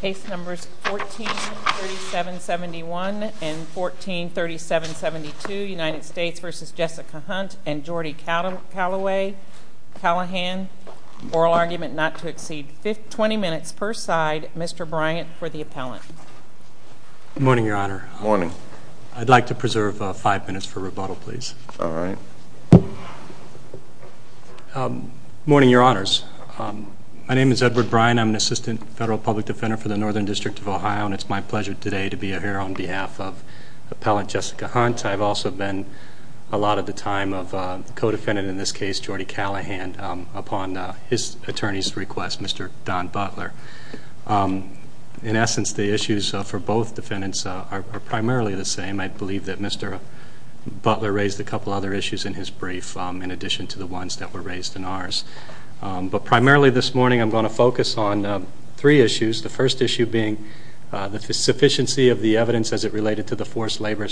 Case numbers 143771 and 143772, United States v. Jessica Hunt and Jordi Callahan, oral argument not to exceed 20 minutes per side, Mr. Bryant for the appellant. Good morning, Your Honor. Good morning. I'd like to preserve five minutes for rebuttal, please. All right. Morning, Your Honors. My name is Edward Bryant. I'm an Assistant Federal Public Defender for the Northern District of Ohio. And it's my pleasure today to be here on behalf of Appellant Jessica Hunt. I've also been a lot of the time a co-defendant in this case, Jordi Callahan, upon his attorney's request, Mr. Don Butler. In essence, the issues for both defendants are primarily the same. I believe that Mr. Butler raised a couple other issues in his brief in addition to the ones that were raised in ours. But primarily this morning I'm going to focus on three issues, the first issue being the sufficiency of the evidence as it related to the forced labor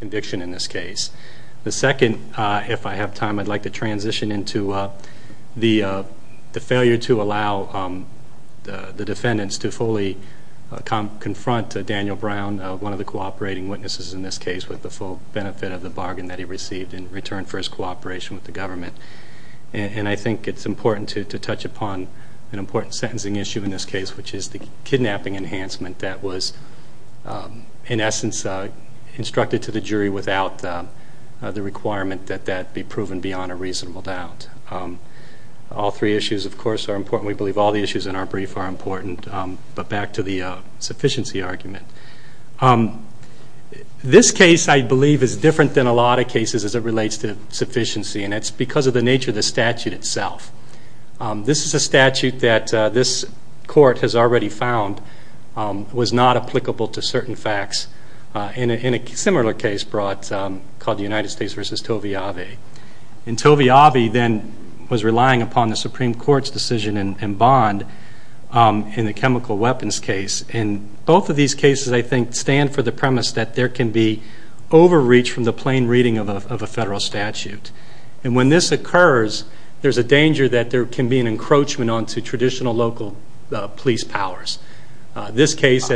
conviction in this case. The second, if I have time, I'd like to transition into the failure to allow the defendants to fully confront Daniel Brown, one of the cooperating witnesses in this case, with the full benefit of the bargain that he received in return for his cooperation with the government. And I think it's important to touch upon an important sentencing issue in this case, which is the kidnapping enhancement that was in essence instructed to the jury without the requirement that that be proven beyond a reasonable doubt. All three issues, of course, are important. We believe all the issues in our brief are important, but back to the sufficiency argument. This case, I believe, is different than a lot of cases as it relates to sufficiency, and it's because of the nature of the statute itself. This is a statute that this court has already found was not applicable to certain facts in a similar case brought, called the United States v. Tove Avi. And Tove Avi then was relying upon the Supreme Court's decision in Bond in the chemical weapons case. And both of these cases, I think, stand for the premise that there can be overreach from the plain reading of a federal statute. And when this occurs, there's a danger that there can be an encroachment onto traditional local police powers. How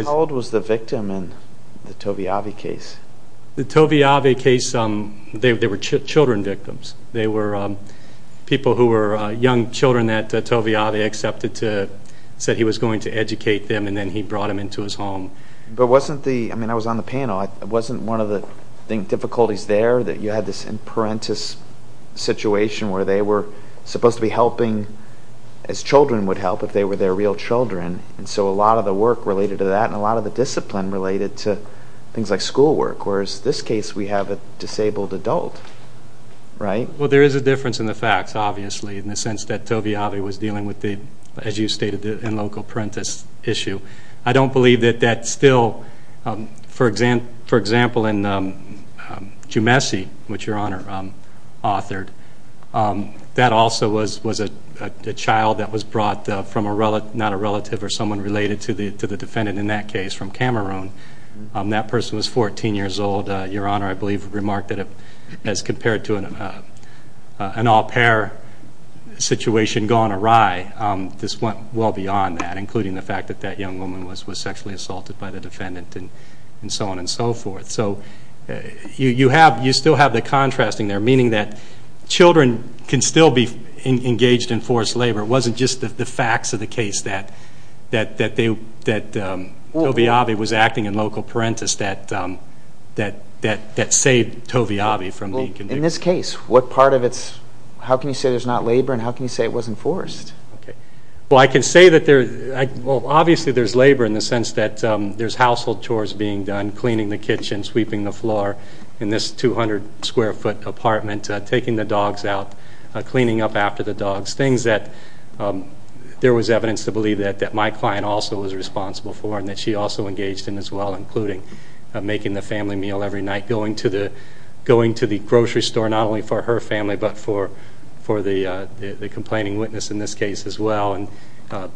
old was the victim in the Tove Avi case? The Tove Avi case, they were children victims. They were people who were young children that Tove Avi accepted to, said he was going to educate them, and then he brought them into his home. But wasn't the, I mean, I was on the panel. Wasn't one of the difficulties there that you had this in parentis situation where they were supposed to be helping as children would help if they were their real children? And so a lot of the work related to that and a lot of the discipline related to things like school work. Whereas this case, we have a disabled adult, right? Well, there is a difference in the facts, obviously, in the sense that Tove Avi was dealing with the, as you stated, the in-local parentis issue. I don't believe that that still, for example, in Jumeci, which Your Honor authored, that also was a child that was brought from not a relative or someone related to the defendant in that case from Cameroon. That person was 14 years old. Your Honor, I believe, remarked that as compared to an au pair situation gone awry, this went well beyond that, including the fact that that young woman was sexually assaulted by the defendant and so on and so forth. So you still have the contrasting there, meaning that children can still be engaged in forced labor. It wasn't just the facts of the case that Tove Avi was acting in local parentis that saved Tove Avi from being convicted. Well, in this case, what part of it's, how can you say there's not labor and how can you say it wasn't forced? Okay. Well, I can say that there, well, obviously there's labor in the sense that there's household chores being done, cleaning the kitchen, sweeping the floor, in this 200-square-foot apartment, taking the dogs out, cleaning up after the dogs, things that there was evidence to believe that my client also was responsible for and that she also engaged in as well, including making the family meal every night, going to the grocery store not only for her family but for the complaining witness in this case as well, and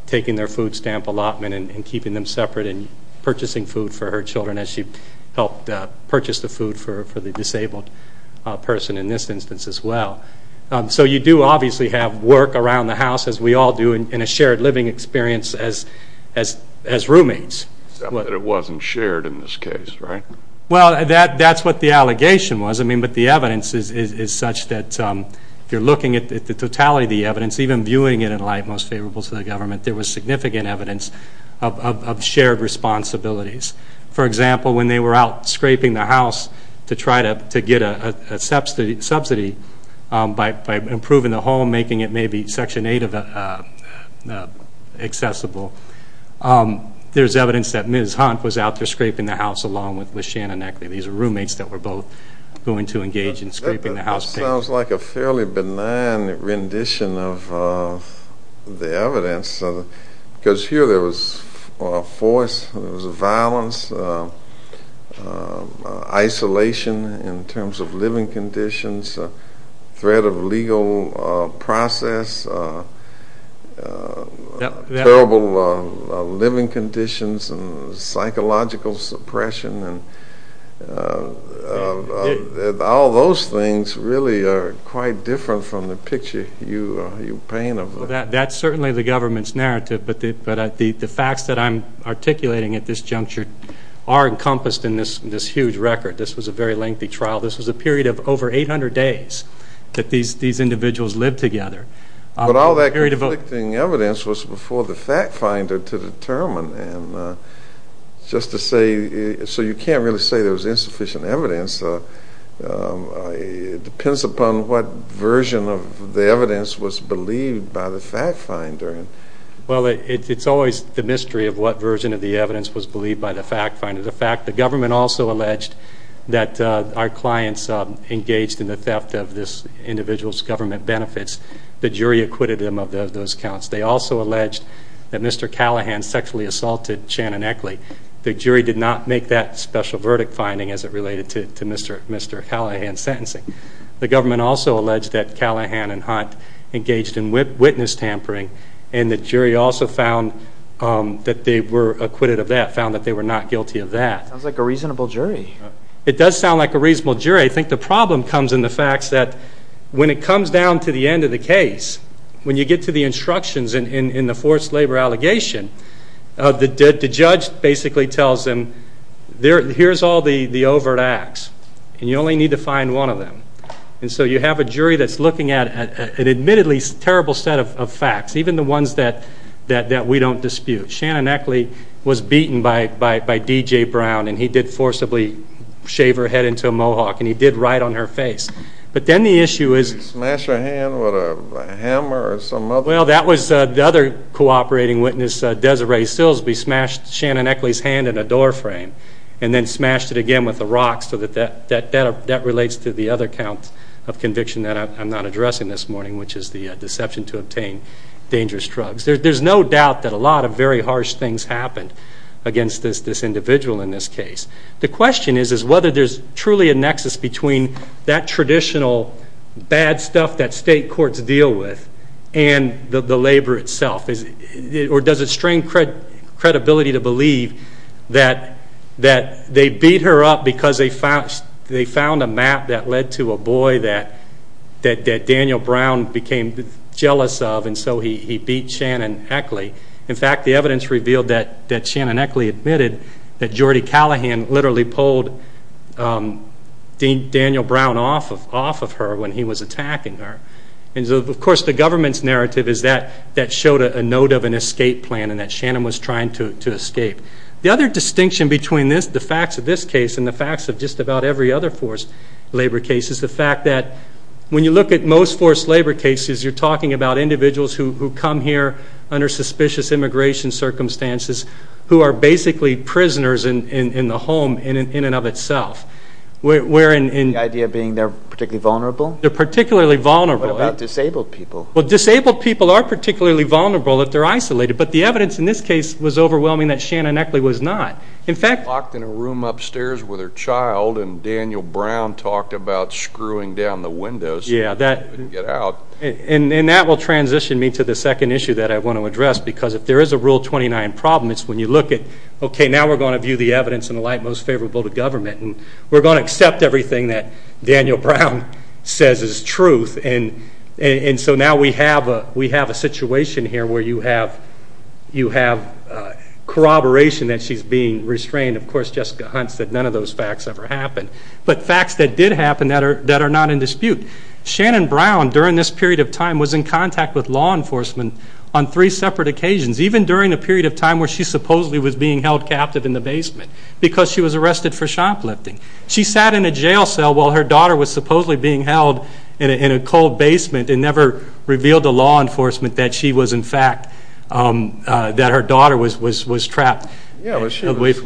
taking their food stamp allotment and keeping them separate and purchasing food for her children as she helped purchase the food for the disabled person in this instance as well. So you do obviously have work around the house, as we all do, and a shared living experience as roommates. Except that it wasn't shared in this case, right? Well, that's what the allegation was. I mean, but the evidence is such that if you're looking at the totality of the evidence, even viewing it in light most favorable to the government, there was significant evidence of shared responsibilities. For example, when they were out scraping the house to try to get a subsidy by improving the home, making it maybe Section 8 accessible, there's evidence that Ms. Hunt was out there scraping the house along with Shannon Eckley. These are roommates that were both going to engage in scraping the house. That sounds like a fairly benign rendition of the evidence, because here there was force, there was violence, there was isolation in terms of living conditions, threat of legal process, terrible living conditions, and psychological suppression, and all those things really are quite different from the picture you paint. That's certainly the government's narrative, but the facts that I'm articulating at this juncture are encompassed in this huge record. This was a very lengthy trial. This was a period of over 800 days that these individuals lived together. But all that conflicting evidence was before the fact finder to determine. And just to say, so you can't really say there was insufficient evidence. It depends upon what version of the evidence was believed by the fact finder. Well, it's always the mystery of what version of the evidence was believed by the fact finder. The government also alleged that our clients engaged in the theft of this individual's government benefits. The jury acquitted them of those counts. They also alleged that Mr. Callahan sexually assaulted Shannon Eckley. The jury did not make that special verdict finding as it related to Mr. Callahan's sentencing. The government also alleged that Callahan and Hunt engaged in witness tampering, and the jury also found that they were acquitted of that, found that they were not guilty of that. Sounds like a reasonable jury. It does sound like a reasonable jury. I think the problem comes in the facts that when it comes down to the end of the case, when you get to the instructions in the forced labor allegation, the judge basically tells them, here's all the overt acts, and you only need to find one of them. And so you have a jury that's looking at an admittedly terrible set of facts, even the ones that we don't dispute. Shannon Eckley was beaten by D.J. Brown, and he did forcibly shave her head into a mohawk, and he did right on her face. But then the issue is... Did he smash her hand with a hammer or some other... Well, that was the other cooperating witness, Desiree Sillsby, smashed Shannon Eckley's hand in a door frame and then smashed it again with a rock, so that that relates to the other count of conviction that I'm not addressing this morning, which is the deception to obtain dangerous drugs. There's no doubt that a lot of very harsh things happened against this individual in this case. The question is whether there's truly a nexus between that traditional bad stuff that state courts deal with and the labor itself, or does it strain credibility to believe that they beat her up because they found a map that led to a boy that Daniel Brown became jealous of, and so he beat Shannon Eckley. In fact, the evidence revealed that Shannon Eckley admitted that Jordy Callahan literally pulled Daniel Brown off of her when he was attacking her. Of course, the government's narrative is that that showed a note of an escape plan and that Shannon was trying to escape. The other distinction between the facts of this case and the facts of just about every other forced labor case is the fact that when you look at most forced labor cases, you're talking about individuals who come here under suspicious immigration circumstances who are basically prisoners in the home in and of itself. The idea being they're particularly vulnerable? They're particularly vulnerable. What about disabled people? Well, disabled people are particularly vulnerable if they're isolated, but the evidence in this case was overwhelming that Shannon Eckley was not. In fact, locked in a room upstairs with her child and Daniel Brown talked about screwing down the windows so she couldn't get out. And that will transition me to the second issue that I want to address because if there is a Rule 29 problem, it's when you look at, okay, now we're going to view the evidence in the light most favorable to government and we're going to accept everything that Daniel Brown says is truth and so now we have a situation here where you have corroboration that she's being restrained. Of course, Jessica Hunt said none of those facts ever happened, but facts that did happen that are not in dispute. Shannon Brown, during this period of time, was in contact with law enforcement on three separate occasions, even during a period of time where she supposedly was being held captive in the basement because she was arrested for shoplifting. She sat in a jail cell while her daughter was supposedly being held in a cold basement and never revealed to law enforcement that she was in fact, that her daughter was trapped. Yeah, but she was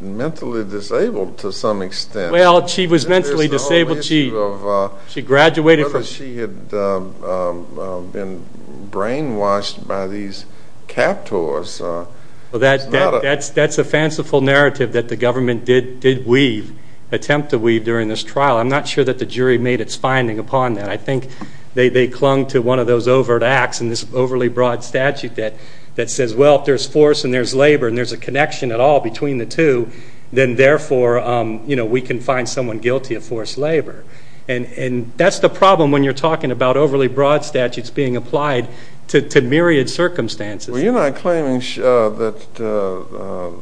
mentally disabled to some extent. Well, she was mentally disabled. She graduated from... She had been brainwashed by these captors. That's a fanciful narrative that the government did attempt to weave during this trial. I'm not sure that the jury made its finding upon that. I think they clung to one of those overt acts in this overly broad statute that says, well, if there's force and there's labor and there's a connection at all between the two, then, therefore, we can find someone guilty of forced labor. And that's the problem when you're talking about overly broad statutes being applied to myriad circumstances. Well, you're not claiming that the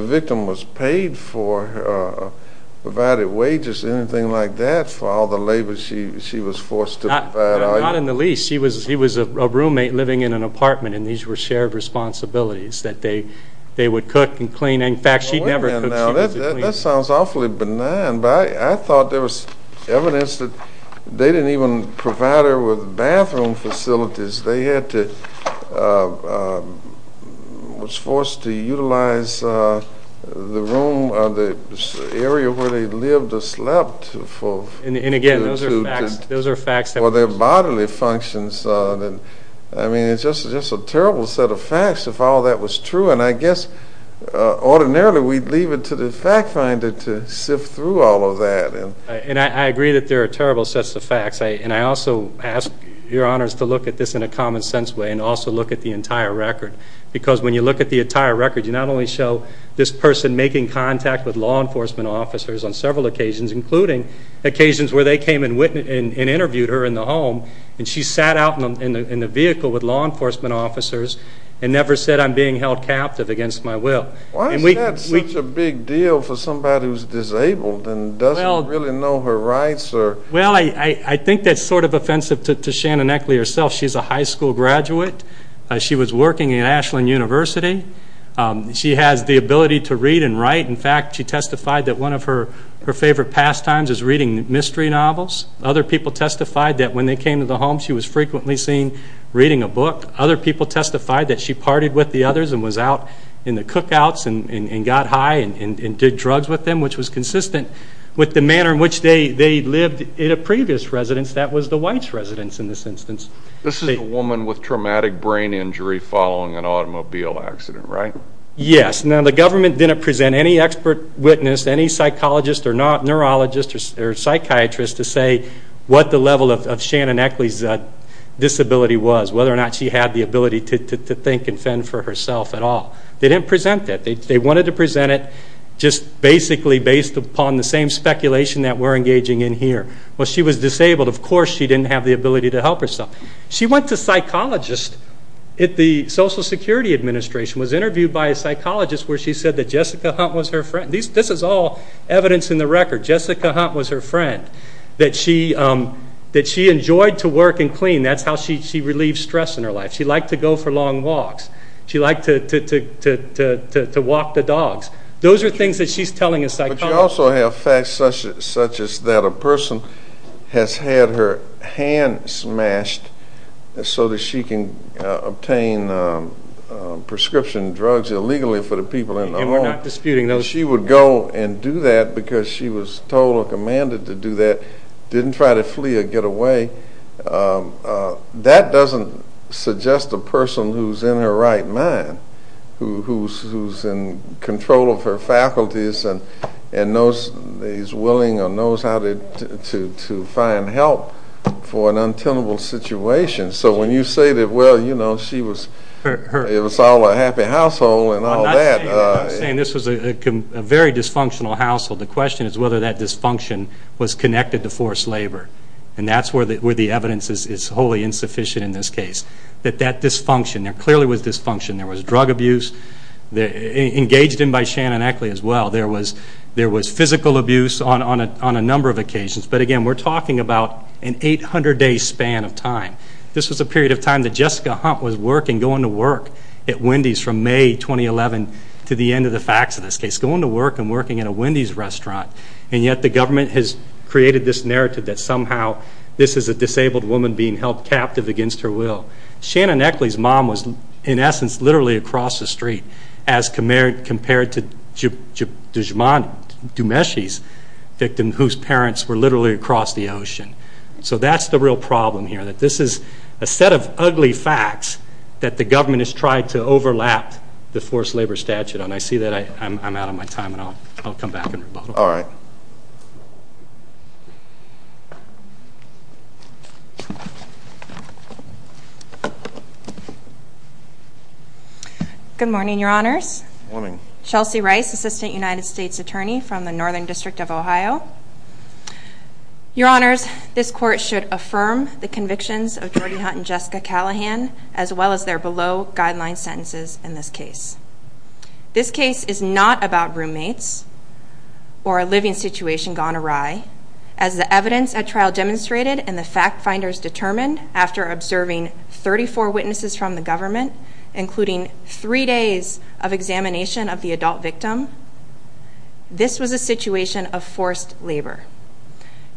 victim was paid for, provided wages, anything like that, for all the labor she was forced to provide. Not in the least. She was a roommate living in an apartment, and these were shared responsibilities, that they would cook and clean. In fact, she never cooked. That sounds awfully benign, but I thought there was evidence that they didn't even provide her with bathroom facilities. They had to, was forced to utilize the room or the area where they lived or slept. And, again, those are facts. Or their bodily functions. I mean, it's just a terrible set of facts if all that was true, and I guess ordinarily we'd leave it to the fact finder to sift through all of that. And I agree that there are terrible sets of facts, and I also ask your honors to look at this in a common sense way and also look at the entire record. Because when you look at the entire record, you not only show this person making contact with law enforcement officers on several occasions, including occasions where they came and interviewed her in the home, and she sat out in the vehicle with law enforcement officers and never said, I'm being held captive against my will. Why is that such a big deal for somebody who's disabled and doesn't really know her rights? Well, I think that's sort of offensive to Shannon Eckley herself. She's a high school graduate. She was working at Ashland University. She has the ability to read and write. In fact, she testified that one of her favorite pastimes is reading mystery novels. Other people testified that when they came to the home she was frequently seen reading a book. Other people testified that she partied with the others and was out in the cookouts and got high and did drugs with them, which was consistent with the manner in which they lived in a previous residence that was the White's residence in this instance. This is a woman with traumatic brain injury following an automobile accident, right? Yes. Now, the government didn't present any expert witness, any psychologist or neurologist or psychiatrist to say what the level of Shannon Eckley's disability was, whether or not she had the ability to think and fend for herself at all. They didn't present that. They wanted to present it just basically based upon the same speculation that we're engaging in here. Well, she was disabled. Of course she didn't have the ability to help herself. She went to psychologists at the Social Security Administration, was interviewed by a psychologist where she said that Jessica Hunt was her friend. This is all evidence in the record. Jessica Hunt was her friend, that she enjoyed to work and clean. That's how she relieved stress in her life. She liked to go for long walks. She liked to walk the dogs. Those are things that she's telling a psychologist. We also have facts such as that a person has had her hand smashed so that she can obtain prescription drugs illegally for the people in the home. And we're not disputing those. She would go and do that because she was told or commanded to do that, didn't try to flee or get away. That doesn't suggest a person who's in her right mind, who's in control of her faculties and is willing or knows how to find help for an untenable situation. So when you say that, well, you know, she was all a happy household and all that. I'm not saying this was a very dysfunctional household. The question is whether that dysfunction was connected to forced labor. And that's where the evidence is wholly insufficient in this case. That that dysfunction, there clearly was dysfunction. There was drug abuse engaged in by Shannon Eckley as well. There was physical abuse on a number of occasions. But, again, we're talking about an 800-day span of time. This was a period of time that Jessica Hunt was working, going to work at Wendy's from May 2011 to the end of the facts of this case, going to work and working at a Wendy's restaurant. And yet the government has created this narrative that somehow this is a disabled woman being held captive against her will. Shannon Eckley's mom was, in essence, literally across the street as compared to Dumeshi's victim whose parents were literally across the ocean. So that's the real problem here, that this is a set of ugly facts that the government has tried to overlap the forced labor statute on. I see that I'm out of my time, and I'll come back and rebuttal. All right. Good morning, Your Honors. Good morning. Chelsea Rice, Assistant United States Attorney from the Northern District of Ohio. Your Honors, this Court should affirm the convictions of Jordi Hunt and Jessica Callahan as well as their below-guideline sentences in this case. This case is not about roommates or a living situation gone awry. As the evidence at trial demonstrated and the fact-finders determined after observing 34 witnesses from the government, including three days of examination of the adult victim, this was a situation of forced labor.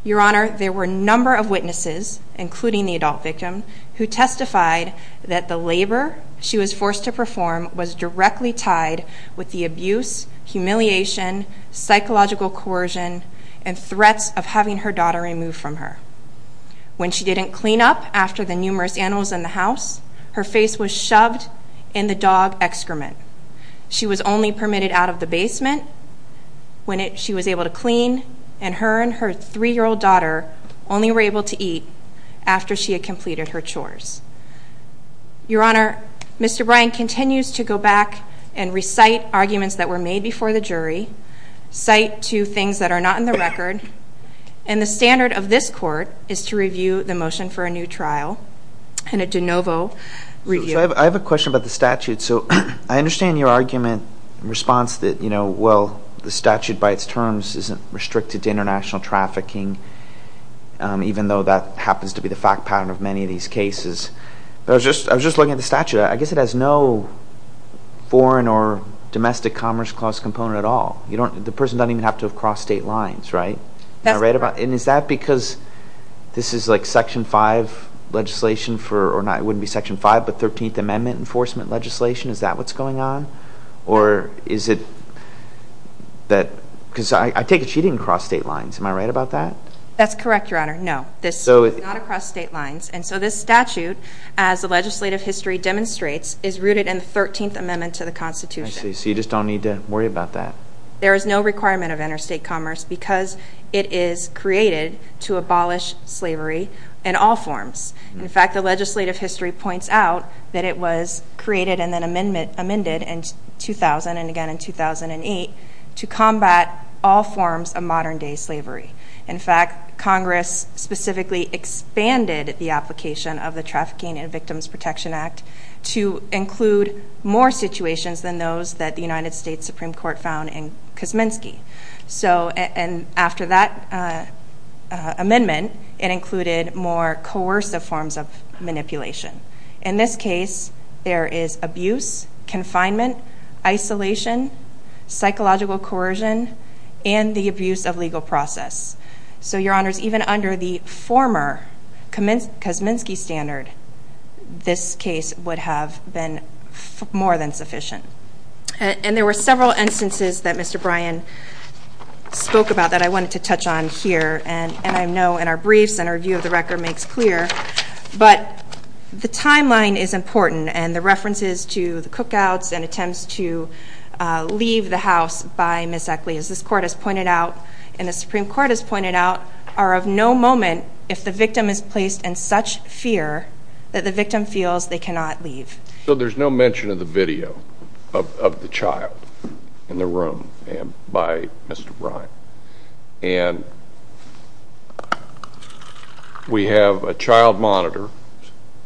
Your Honor, there were a number of witnesses, including the adult victim, who testified that the labor she was forced to perform was directly tied with the abuse, humiliation, psychological coercion, and threats of having her daughter removed from her. When she didn't clean up after the numerous animals in the house, her face was shoved in the dog excrement. She was only permitted out of the basement when she was able to clean, and her and her three-year-old daughter only were able to eat after she had completed her chores. Your Honor, Mr. Bryan continues to go back and recite arguments that were made before the jury, cite two things that are not in the record, and the standard of this Court is to review the motion for a new trial and a de novo review. I have a question about the statute. So I understand your argument in response that, you know, well, the statute by its terms isn't restricted to international trafficking, even though that happens to be the fact pattern of many of these cases. But I was just looking at the statute. I guess it has no foreign or domestic commerce clause component at all. The person doesn't even have to have crossed state lines, right? Am I right about that? And is that because this is like Section 5 legislation for, or not, it wouldn't be Section 5, but 13th Amendment enforcement legislation? Is that what's going on? Or is it that, because I take it she didn't cross state lines. Am I right about that? That's correct, Your Honor. No, this is not across state lines. And so this statute, as the legislative history demonstrates, is rooted in the 13th Amendment to the Constitution. I see. So you just don't need to worry about that. There is no requirement of interstate commerce because it is created to abolish slavery in all forms. In fact, the legislative history points out that it was created and then amended in 2000 and again in 2008 to combat all forms of modern-day slavery. In fact, Congress specifically expanded the application of the Trafficking and Victims Protection Act to include more situations than those that the United States Supreme Court found in Kosminski. And after that amendment, it included more coercive forms of manipulation. In this case, there is abuse, confinement, isolation, psychological coercion, and the abuse of legal process. So, Your Honors, even under the former Kosminski standard, this case would have been more than sufficient. And there were several instances that Mr. Bryan spoke about that I wanted to touch on here. And I know in our briefs and our view of the record makes clear, but the timeline is important and the references to the cookouts and attempts to leave the house by Ms. Eckley, as this Court has pointed out and the Supreme Court has pointed out, are of no moment if the victim is placed in such fear that the victim feels they cannot leave. So there's no mention of the video of the child in the room by Mr. Bryan. And we have a child monitor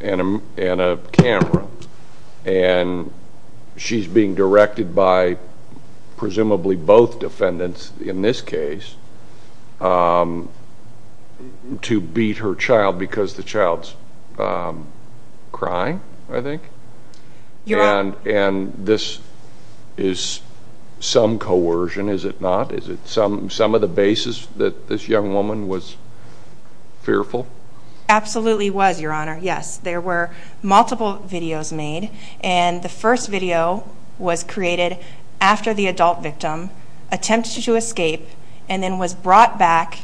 and a camera. And she's being directed by presumably both defendants in this case to beat her child because the child's crying, I think. And this is some coercion, is it not? Is it some of the basis that this young woman was fearful? Absolutely was, Your Honor, yes. There were multiple videos made, and the first video was created after the adult victim attempted to escape and then was brought back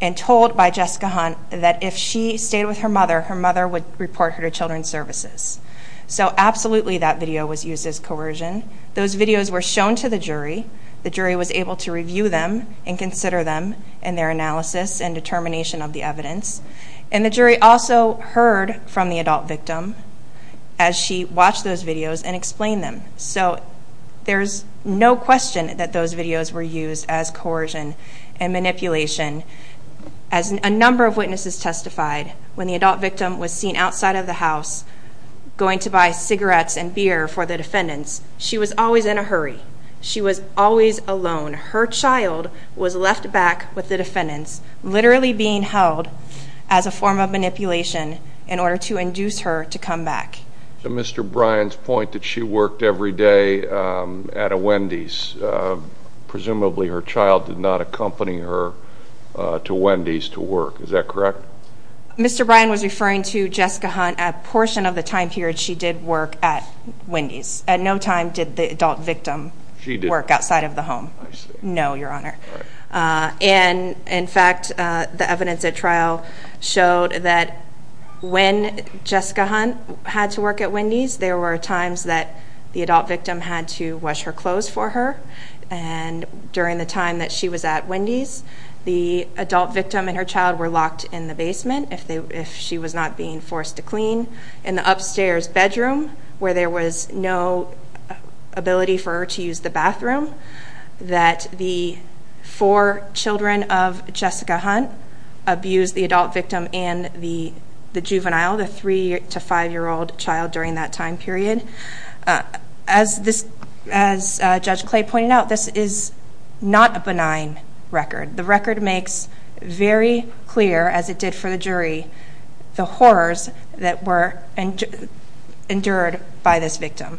and told by Jessica Hunt that if she stayed with her mother, her mother would report her to Children's Services. So absolutely that video was used as coercion. Those videos were shown to the jury. The jury was able to review them and consider them in their analysis and determination of the evidence. And the jury also heard from the adult victim as she watched those videos and explained them. So there's no question that those videos were used as coercion and manipulation. As a number of witnesses testified, when the adult victim was seen outside of the house going to buy cigarettes and beer for the defendants, she was always in a hurry. She was always alone. Her child was left back with the defendants, literally being held as a form of manipulation in order to induce her to come back. To Mr. Bryan's point that she worked every day at a Wendy's, presumably her child did not accompany her to Wendy's to work. Is that correct? Mr. Bryan was referring to Jessica Hunt. A portion of the time period she did work at Wendy's. At no time did the adult victim work outside of the home. No, Your Honor. And, in fact, the evidence at trial showed that when Jessica Hunt had to work at Wendy's, there were times that the adult victim had to wash her clothes for her. And during the time that she was at Wendy's, the adult victim and her child were locked in the basement if she was not being forced to clean. In the upstairs bedroom, where there was no ability for her to use the bathroom, that the four children of Jessica Hunt abused the adult victim and the juvenile, the three- to five-year-old child during that time period. As Judge Clay pointed out, this is not a benign record. The record makes very clear, as it did for the jury, the horrors that were endured by this victim.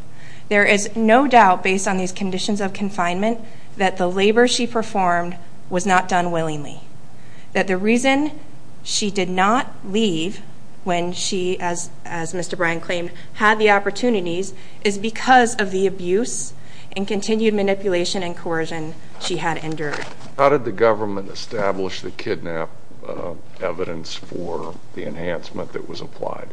There is no doubt, based on these conditions of confinement, that the labor she performed was not done willingly. That the reason she did not leave when she, as Mr. Bryan claimed, had the opportunities, is because of the abuse and continued manipulation and coercion she had endured. How did the government establish the kidnap evidence for the enhancement that was applied?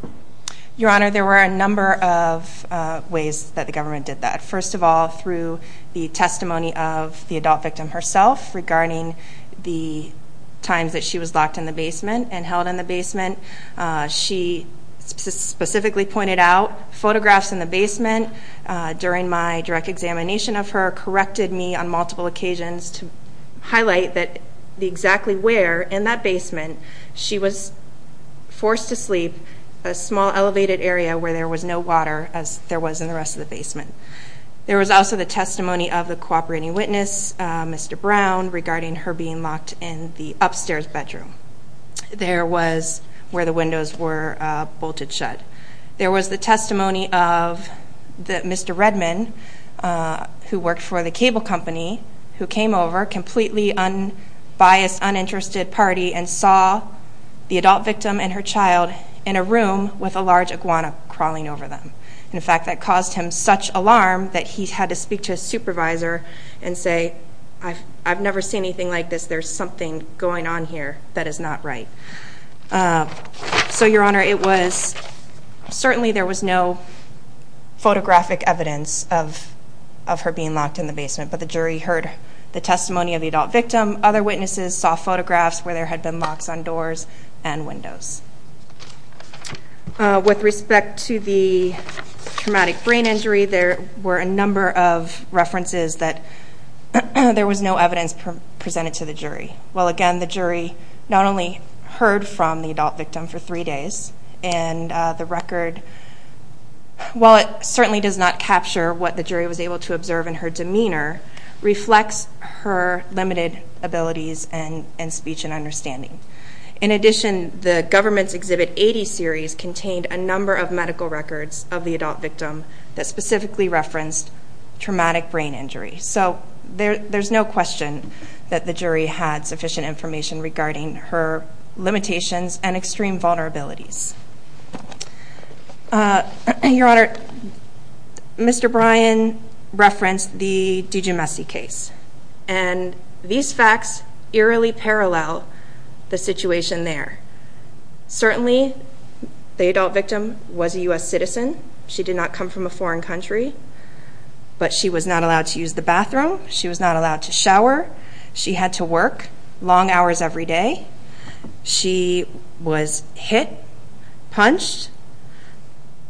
Your Honor, there were a number of ways that the government did that. First of all, through the testimony of the adult victim herself, regarding the times that she was locked in the basement and held in the basement. She specifically pointed out photographs in the basement. During my direct examination of her, corrected me on multiple occasions to highlight that exactly where in that basement she was forced to sleep, a small elevated area where there was no water, as there was in the rest of the basement. There was also the testimony of the cooperating witness, Mr. Brown, regarding her being locked in the upstairs bedroom. There was where the windows were bolted shut. There was the testimony of Mr. Redman, who worked for the cable company, who came over, completely unbiased, uninterested party, and saw the adult victim and her child in a room with a large iguana crawling over them. In fact, that caused him such alarm that he had to speak to his supervisor and say, I've never seen anything like this. There's something going on here that is not right. So, Your Honor, certainly there was no photographic evidence of her being locked in the basement, but the jury heard the testimony of the adult victim. Other witnesses saw photographs where there had been locks on doors and windows. With respect to the traumatic brain injury, there were a number of references that there was no evidence presented to the jury. Well, again, the jury not only heard from the adult victim for three days, and the record, while it certainly does not capture what the jury was able to observe in her demeanor, reflects her limited abilities in speech and understanding. In addition, the government's Exhibit 80 series contained a number of medical records of the adult victim that specifically referenced traumatic brain injury. So there's no question that the jury had sufficient information regarding her limitations and extreme vulnerabilities. Your Honor, Mr. Bryan referenced the DiGiumesse case, and these facts eerily parallel the situation there. Certainly, the adult victim was a U.S. citizen. She did not come from a foreign country, but she was not allowed to use the bathroom. She was not allowed to shower. She had to work long hours every day. She was hit, punched,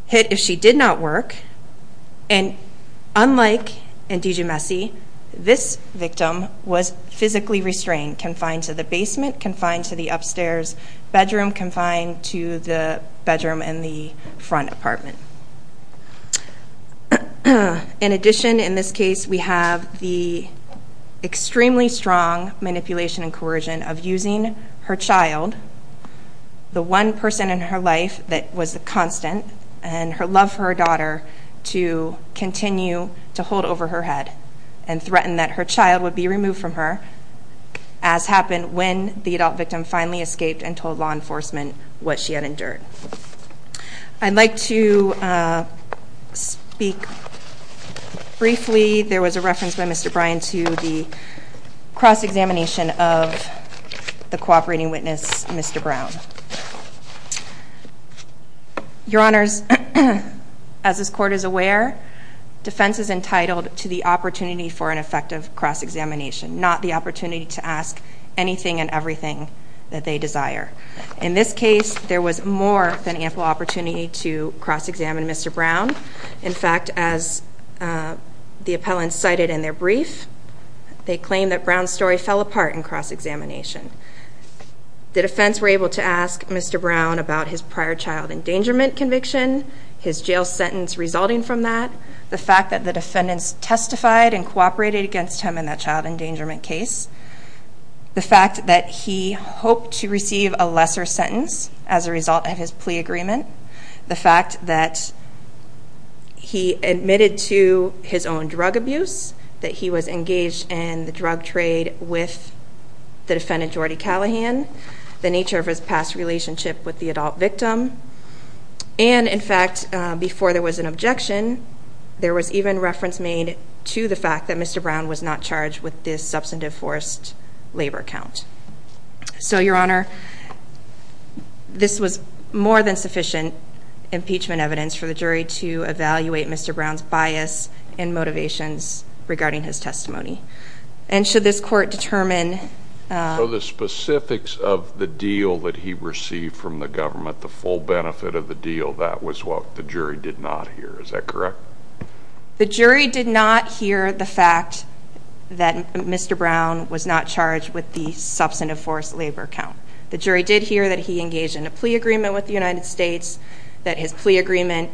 hit if she did not work. And unlike DiGiumesse, this victim was physically restrained, confined to the basement, confined to the upstairs bedroom, and confined to the bedroom in the front apartment. In addition, in this case, we have the extremely strong manipulation and coercion of using her child, the one person in her life that was a constant, and her love for her daughter, to continue to hold over her head and threaten that her child would be removed from her, as happened when the adult victim finally escaped and told law enforcement what she had endured. I'd like to speak briefly. There was a reference by Mr. Bryan to the cross-examination of the cooperating witness, Mr. Brown. Your Honors, as this Court is aware, defense is entitled to the opportunity for an effective cross-examination, not the opportunity to ask anything and everything that they desire. In this case, there was more than ample opportunity to cross-examine Mr. Brown. In fact, as the appellant cited in their brief, they claim that Brown's story fell apart in cross-examination. The defense were able to ask Mr. Brown about his prior child endangerment conviction, his jail sentence resulting from that, the fact that the defendants testified and cooperated against him in that child endangerment case, the fact that he hoped to receive a lesser sentence as a result of his plea agreement, the fact that he admitted to his own drug abuse, that he was engaged in the drug trade with the defendant, Jordy Callahan, the nature of his past relationship with the adult victim, and, in fact, before there was an objection, there was even reference made to the fact that Mr. Brown was not charged with this substantive forced labor count. So, Your Honor, this was more than sufficient impeachment evidence for the jury to evaluate Mr. Brown's bias and motivations regarding his testimony. And should this Court determine... that was what the jury did not hear. Is that correct? The jury did not hear the fact that Mr. Brown was not charged with the substantive forced labor count. The jury did hear that he engaged in a plea agreement with the United States, that his plea agreement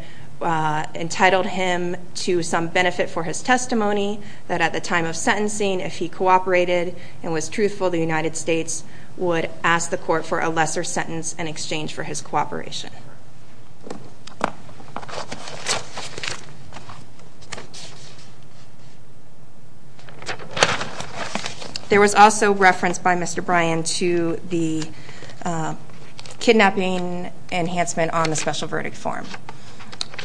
entitled him to some benefit for his testimony, that at the time of sentencing, if he cooperated and was truthful, the United States would ask the Court for a lesser sentence in exchange for his cooperation. There was also reference by Mr. Bryan to the kidnapping enhancement on the special verdict form.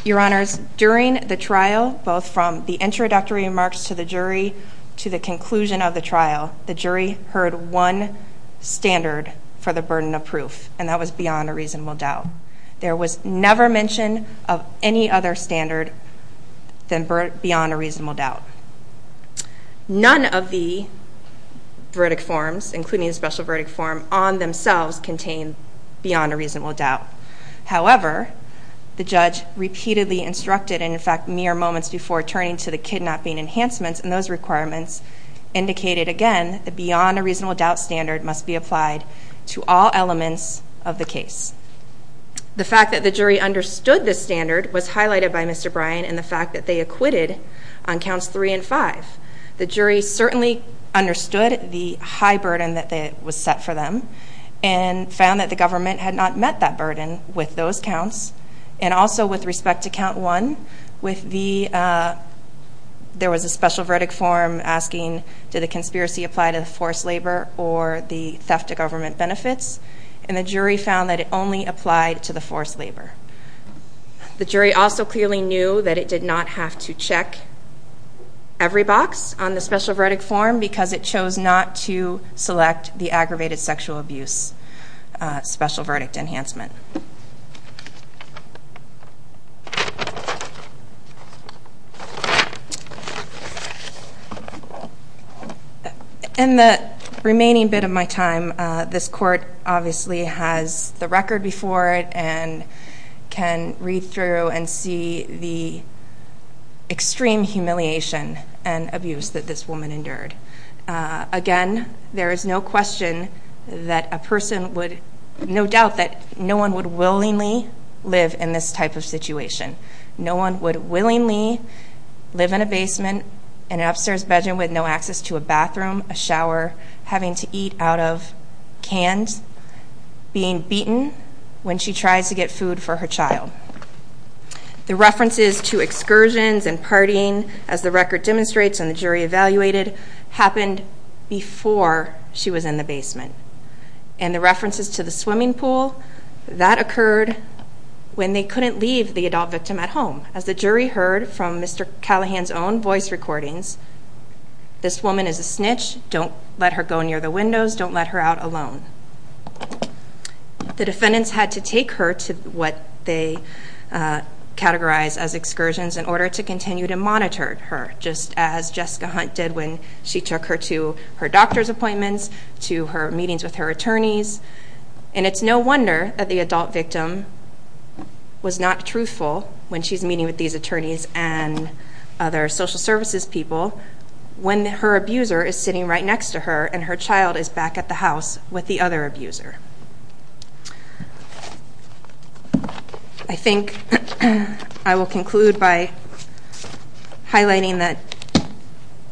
Your Honors, during the trial, both from the introductory remarks to the jury to the conclusion of the trial, the jury heard one standard for the burden of proof, and that was beyond a reasonable doubt. There was never mention of any other standard than beyond a reasonable doubt. None of the verdict forms, including the special verdict form, on themselves contained beyond a reasonable doubt. However, the judge repeatedly instructed, and in fact mere moments before turning to the kidnapping enhancements, and those requirements indicated again that beyond a reasonable doubt standard must be applied to all elements of the case. The fact that the jury understood this standard was highlighted by Mr. Bryan, and the fact that they acquitted on counts three and five. The jury certainly understood the high burden that was set for them, and found that the government had not met that burden with those counts. And also with respect to count one, there was a special verdict form asking, did the conspiracy apply to the forced labor or the theft of government benefits? And the jury found that it only applied to the forced labor. The jury also clearly knew that it did not have to check every box on the special verdict form because it chose not to select the aggravated sexual abuse special verdict enhancement. In the remaining bit of my time, this court obviously has the record before it and can read through and see the extreme humiliation and abuse that this woman endured. Again, there is no question that a person would, no doubt that no one would willingly live in this type of situation. No one would willingly live in a basement, in an upstairs bedroom with no access to a bathroom, a shower, having to eat out of cans, being beaten when she tries to get food for her child. The references to excursions and partying, as the record demonstrates and the jury evaluated, happened before she was in the basement. And the references to the swimming pool, that occurred when they couldn't leave the adult victim at home. As the jury heard from Mr. Callahan's own voice recordings, this woman is a snitch, don't let her go near the windows, don't let her out alone. The defendants had to take her to what they categorize as excursions in order to continue to monitor her, just as Jessica Hunt did when she took her to her doctor's appointments, to her meetings with her attorneys. And it's no wonder that the adult victim was not truthful when she's meeting with these attorneys and other social services people when her abuser is sitting right next to her and her child is back at the house with the other abuser. I think I will conclude by highlighting that,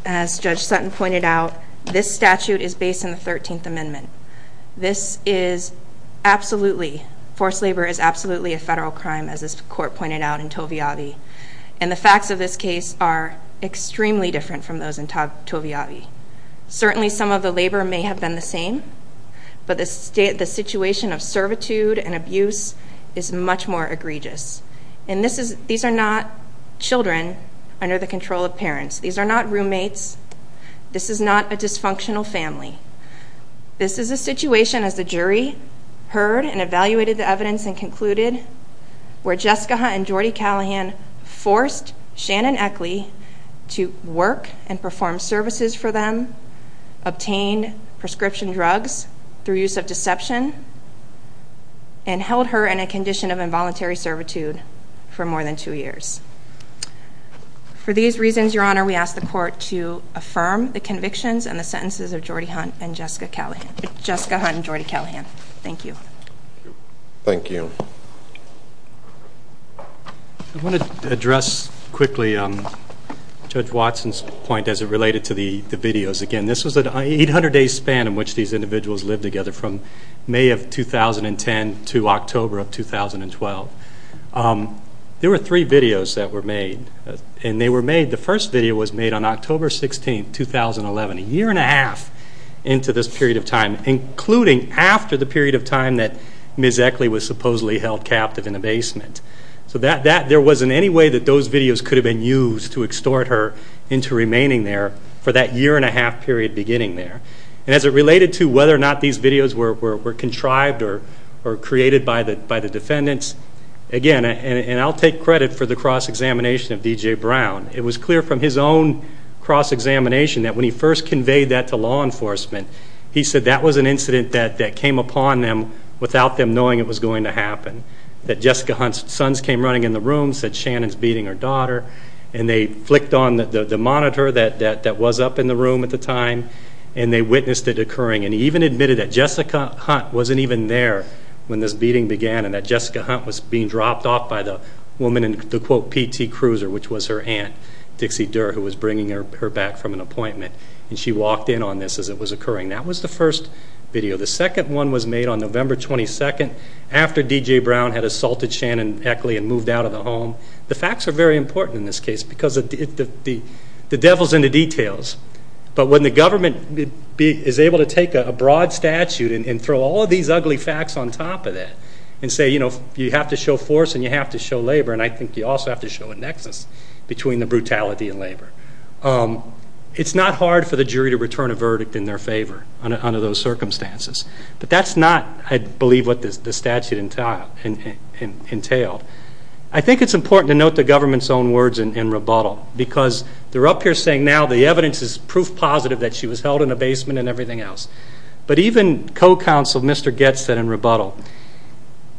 as Judge Sutton pointed out, this statute is based on the 13th Amendment. This is absolutely, forced labor is absolutely a federal crime, as this court pointed out in Toviavi. And the facts of this case are extremely different from those in Toviavi. Certainly some of the labor may have been the same, but the situation of servitude and abuse is much more egregious. And these are not children under the control of parents. These are not roommates. This is not a dysfunctional family. This is a situation, as the jury heard and evaluated the evidence and concluded, where Jessica Hunt and Jordi Callahan forced Shannon Eckley to work and perform services for them, obtained prescription drugs through use of deception, and held her in a condition of involuntary servitude for more than two years. For these reasons, Your Honor, we ask the court to affirm the convictions and the sentences of Jessica Hunt and Jordi Callahan. Thank you. Thank you. I want to address quickly Judge Watson's point as it related to the videos. Again, this was an 800-day span in which these individuals lived together from May of 2010 to October of 2012. There were three videos that were made. The first video was made on October 16, 2011, a year and a half into this period of time, including after the period of time that Ms. Eckley was supposedly held captive in a basement. So there wasn't any way that those videos could have been used to extort her into remaining there for that year and a half period beginning there. And as it related to whether or not these videos were contrived or created by the defendants, again, and I'll take credit for the cross-examination of D.J. Brown, it was clear from his own cross-examination that when he first conveyed that to law enforcement, he said that was an incident that came upon them without them knowing it was going to happen, that Jessica Hunt's sons came running in the room, said Shannon's beating her daughter, and they flicked on the monitor that was up in the room at the time and they witnessed it occurring. And he even admitted that Jessica Hunt wasn't even there when this beating began and that Jessica Hunt was being dropped off by the woman in the, quote, PT Cruiser, which was her aunt, Dixie Durr, who was bringing her back from an appointment. And she walked in on this as it was occurring. That was the first video. The second one was made on November 22, after D.J. Brown had assaulted Shannon Eckley and moved out of the home. The facts are very important in this case because the devil's in the details. But when the government is able to take a broad statute and throw all of these ugly facts on top of that and say, you know, you have to show force and you have to show labor, and I think you also have to show a nexus between the brutality and labor, it's not hard for the jury to return a verdict in their favor under those circumstances. But that's not, I believe, what the statute entailed. I think it's important to note the government's own words in rebuttal because they're up here saying now the evidence is proof positive that she was held in a basement and everything else. But even co-counsel Mr. Goetz said in rebuttal,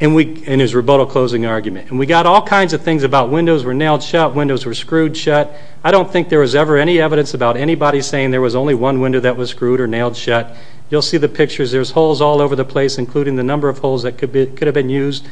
in his rebuttal closing argument, and we got all kinds of things about windows were nailed shut, windows were screwed shut. I don't think there was ever any evidence about anybody saying there was only one window that was screwed or nailed shut. You'll see the pictures. There's holes all over the place, including the number of holes that could have been used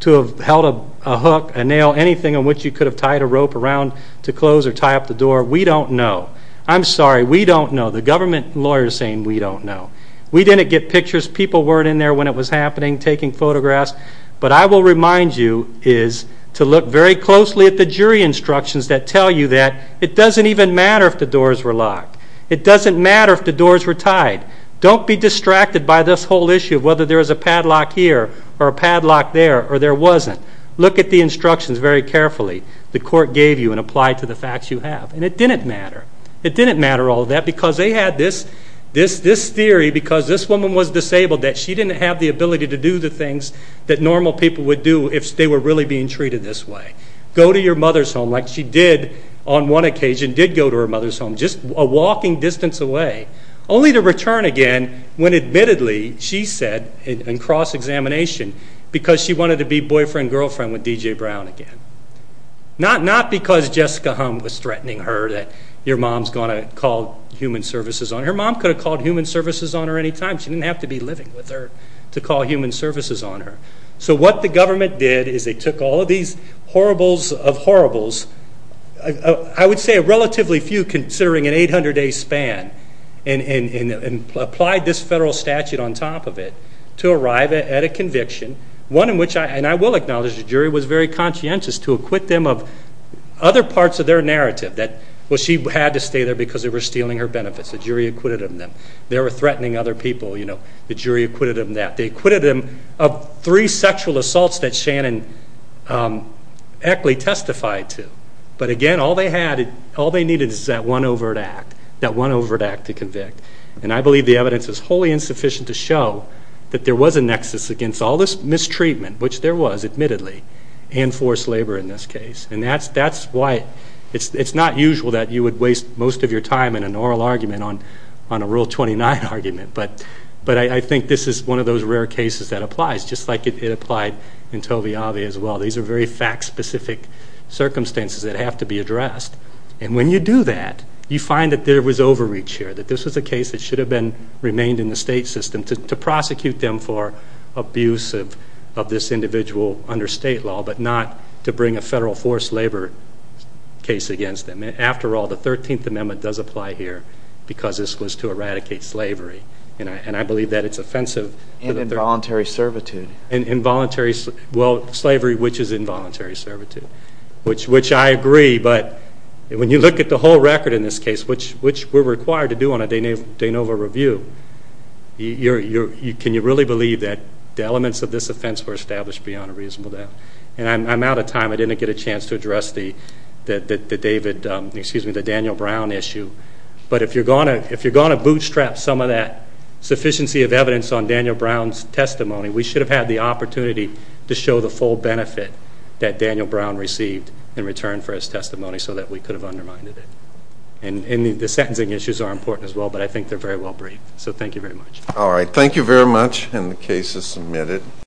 to have held a hook, a nail, anything in which you could have tied a rope around to close or tie up the door. We don't know. I'm sorry. We don't know. The government lawyer is saying we don't know. We didn't get pictures. People weren't in there when it was happening taking photographs. But I will remind you is to look very closely at the jury instructions that tell you that it doesn't even matter if the doors were locked. It doesn't matter if the doors were tied. Don't be distracted by this whole issue of whether there was a padlock here or a padlock there or there wasn't. Look at the instructions very carefully the court gave you and apply it to the facts you have. And it didn't matter. It didn't matter all that because they had this theory because this woman was disabled that she didn't have the ability to do the things that normal people would do if they were really being treated this way. Go to your mother's home like she did on one occasion, did go to her mother's home, just a walking distance away, only to return again when admittedly she said in cross-examination because she wanted to be boyfriend-girlfriend with D.J. Brown again. Not because Jessica was threatening her that your mom is going to call human services on her. Her mom could have called human services on her any time. She didn't have to be living with her to call human services on her. So what the government did is they took all of these horribles of horribles. I would say relatively few considering an 800-day span and applied this federal statute on top of it to arrive at a conviction, one in which, and I will acknowledge the jury was very conscientious, to acquit them of other parts of their narrative that she had to stay there because they were stealing her benefits. The jury acquitted them. They were threatening other people. The jury acquitted them of that. But again, all they needed is that one overt act, that one overt act to convict. And I believe the evidence is wholly insufficient to show that there was a nexus against all this mistreatment, which there was admittedly, and forced labor in this case. And that's why it's not usual that you would waste most of your time in an oral argument on a Rule 29 argument. But I think this is one of those rare cases that applies, just like it applied in Tovi Avi as well. These are very fact-specific circumstances that have to be addressed. And when you do that, you find that there was overreach here, that this was a case that should have remained in the state system to prosecute them for abuse of this individual under state law, but not to bring a federal forced labor case against them. After all, the 13th Amendment does apply here because this was to eradicate slavery. And I believe that it's offensive. And involuntary servitude. Well, slavery, which is involuntary servitude, which I agree. But when you look at the whole record in this case, which we're required to do on a de novo review, can you really believe that the elements of this offense were established beyond a reasonable doubt? And I'm out of time. I didn't get a chance to address the Daniel Brown issue. But if you're going to bootstrap some of that sufficiency of evidence on Daniel Brown's testimony, we should have had the opportunity to show the full benefit that Daniel Brown received in return for his testimony so that we could have undermined it. And the sentencing issues are important as well, but I think they're very well briefed. So thank you very much. All right. Thank you very much. And the case is submitted.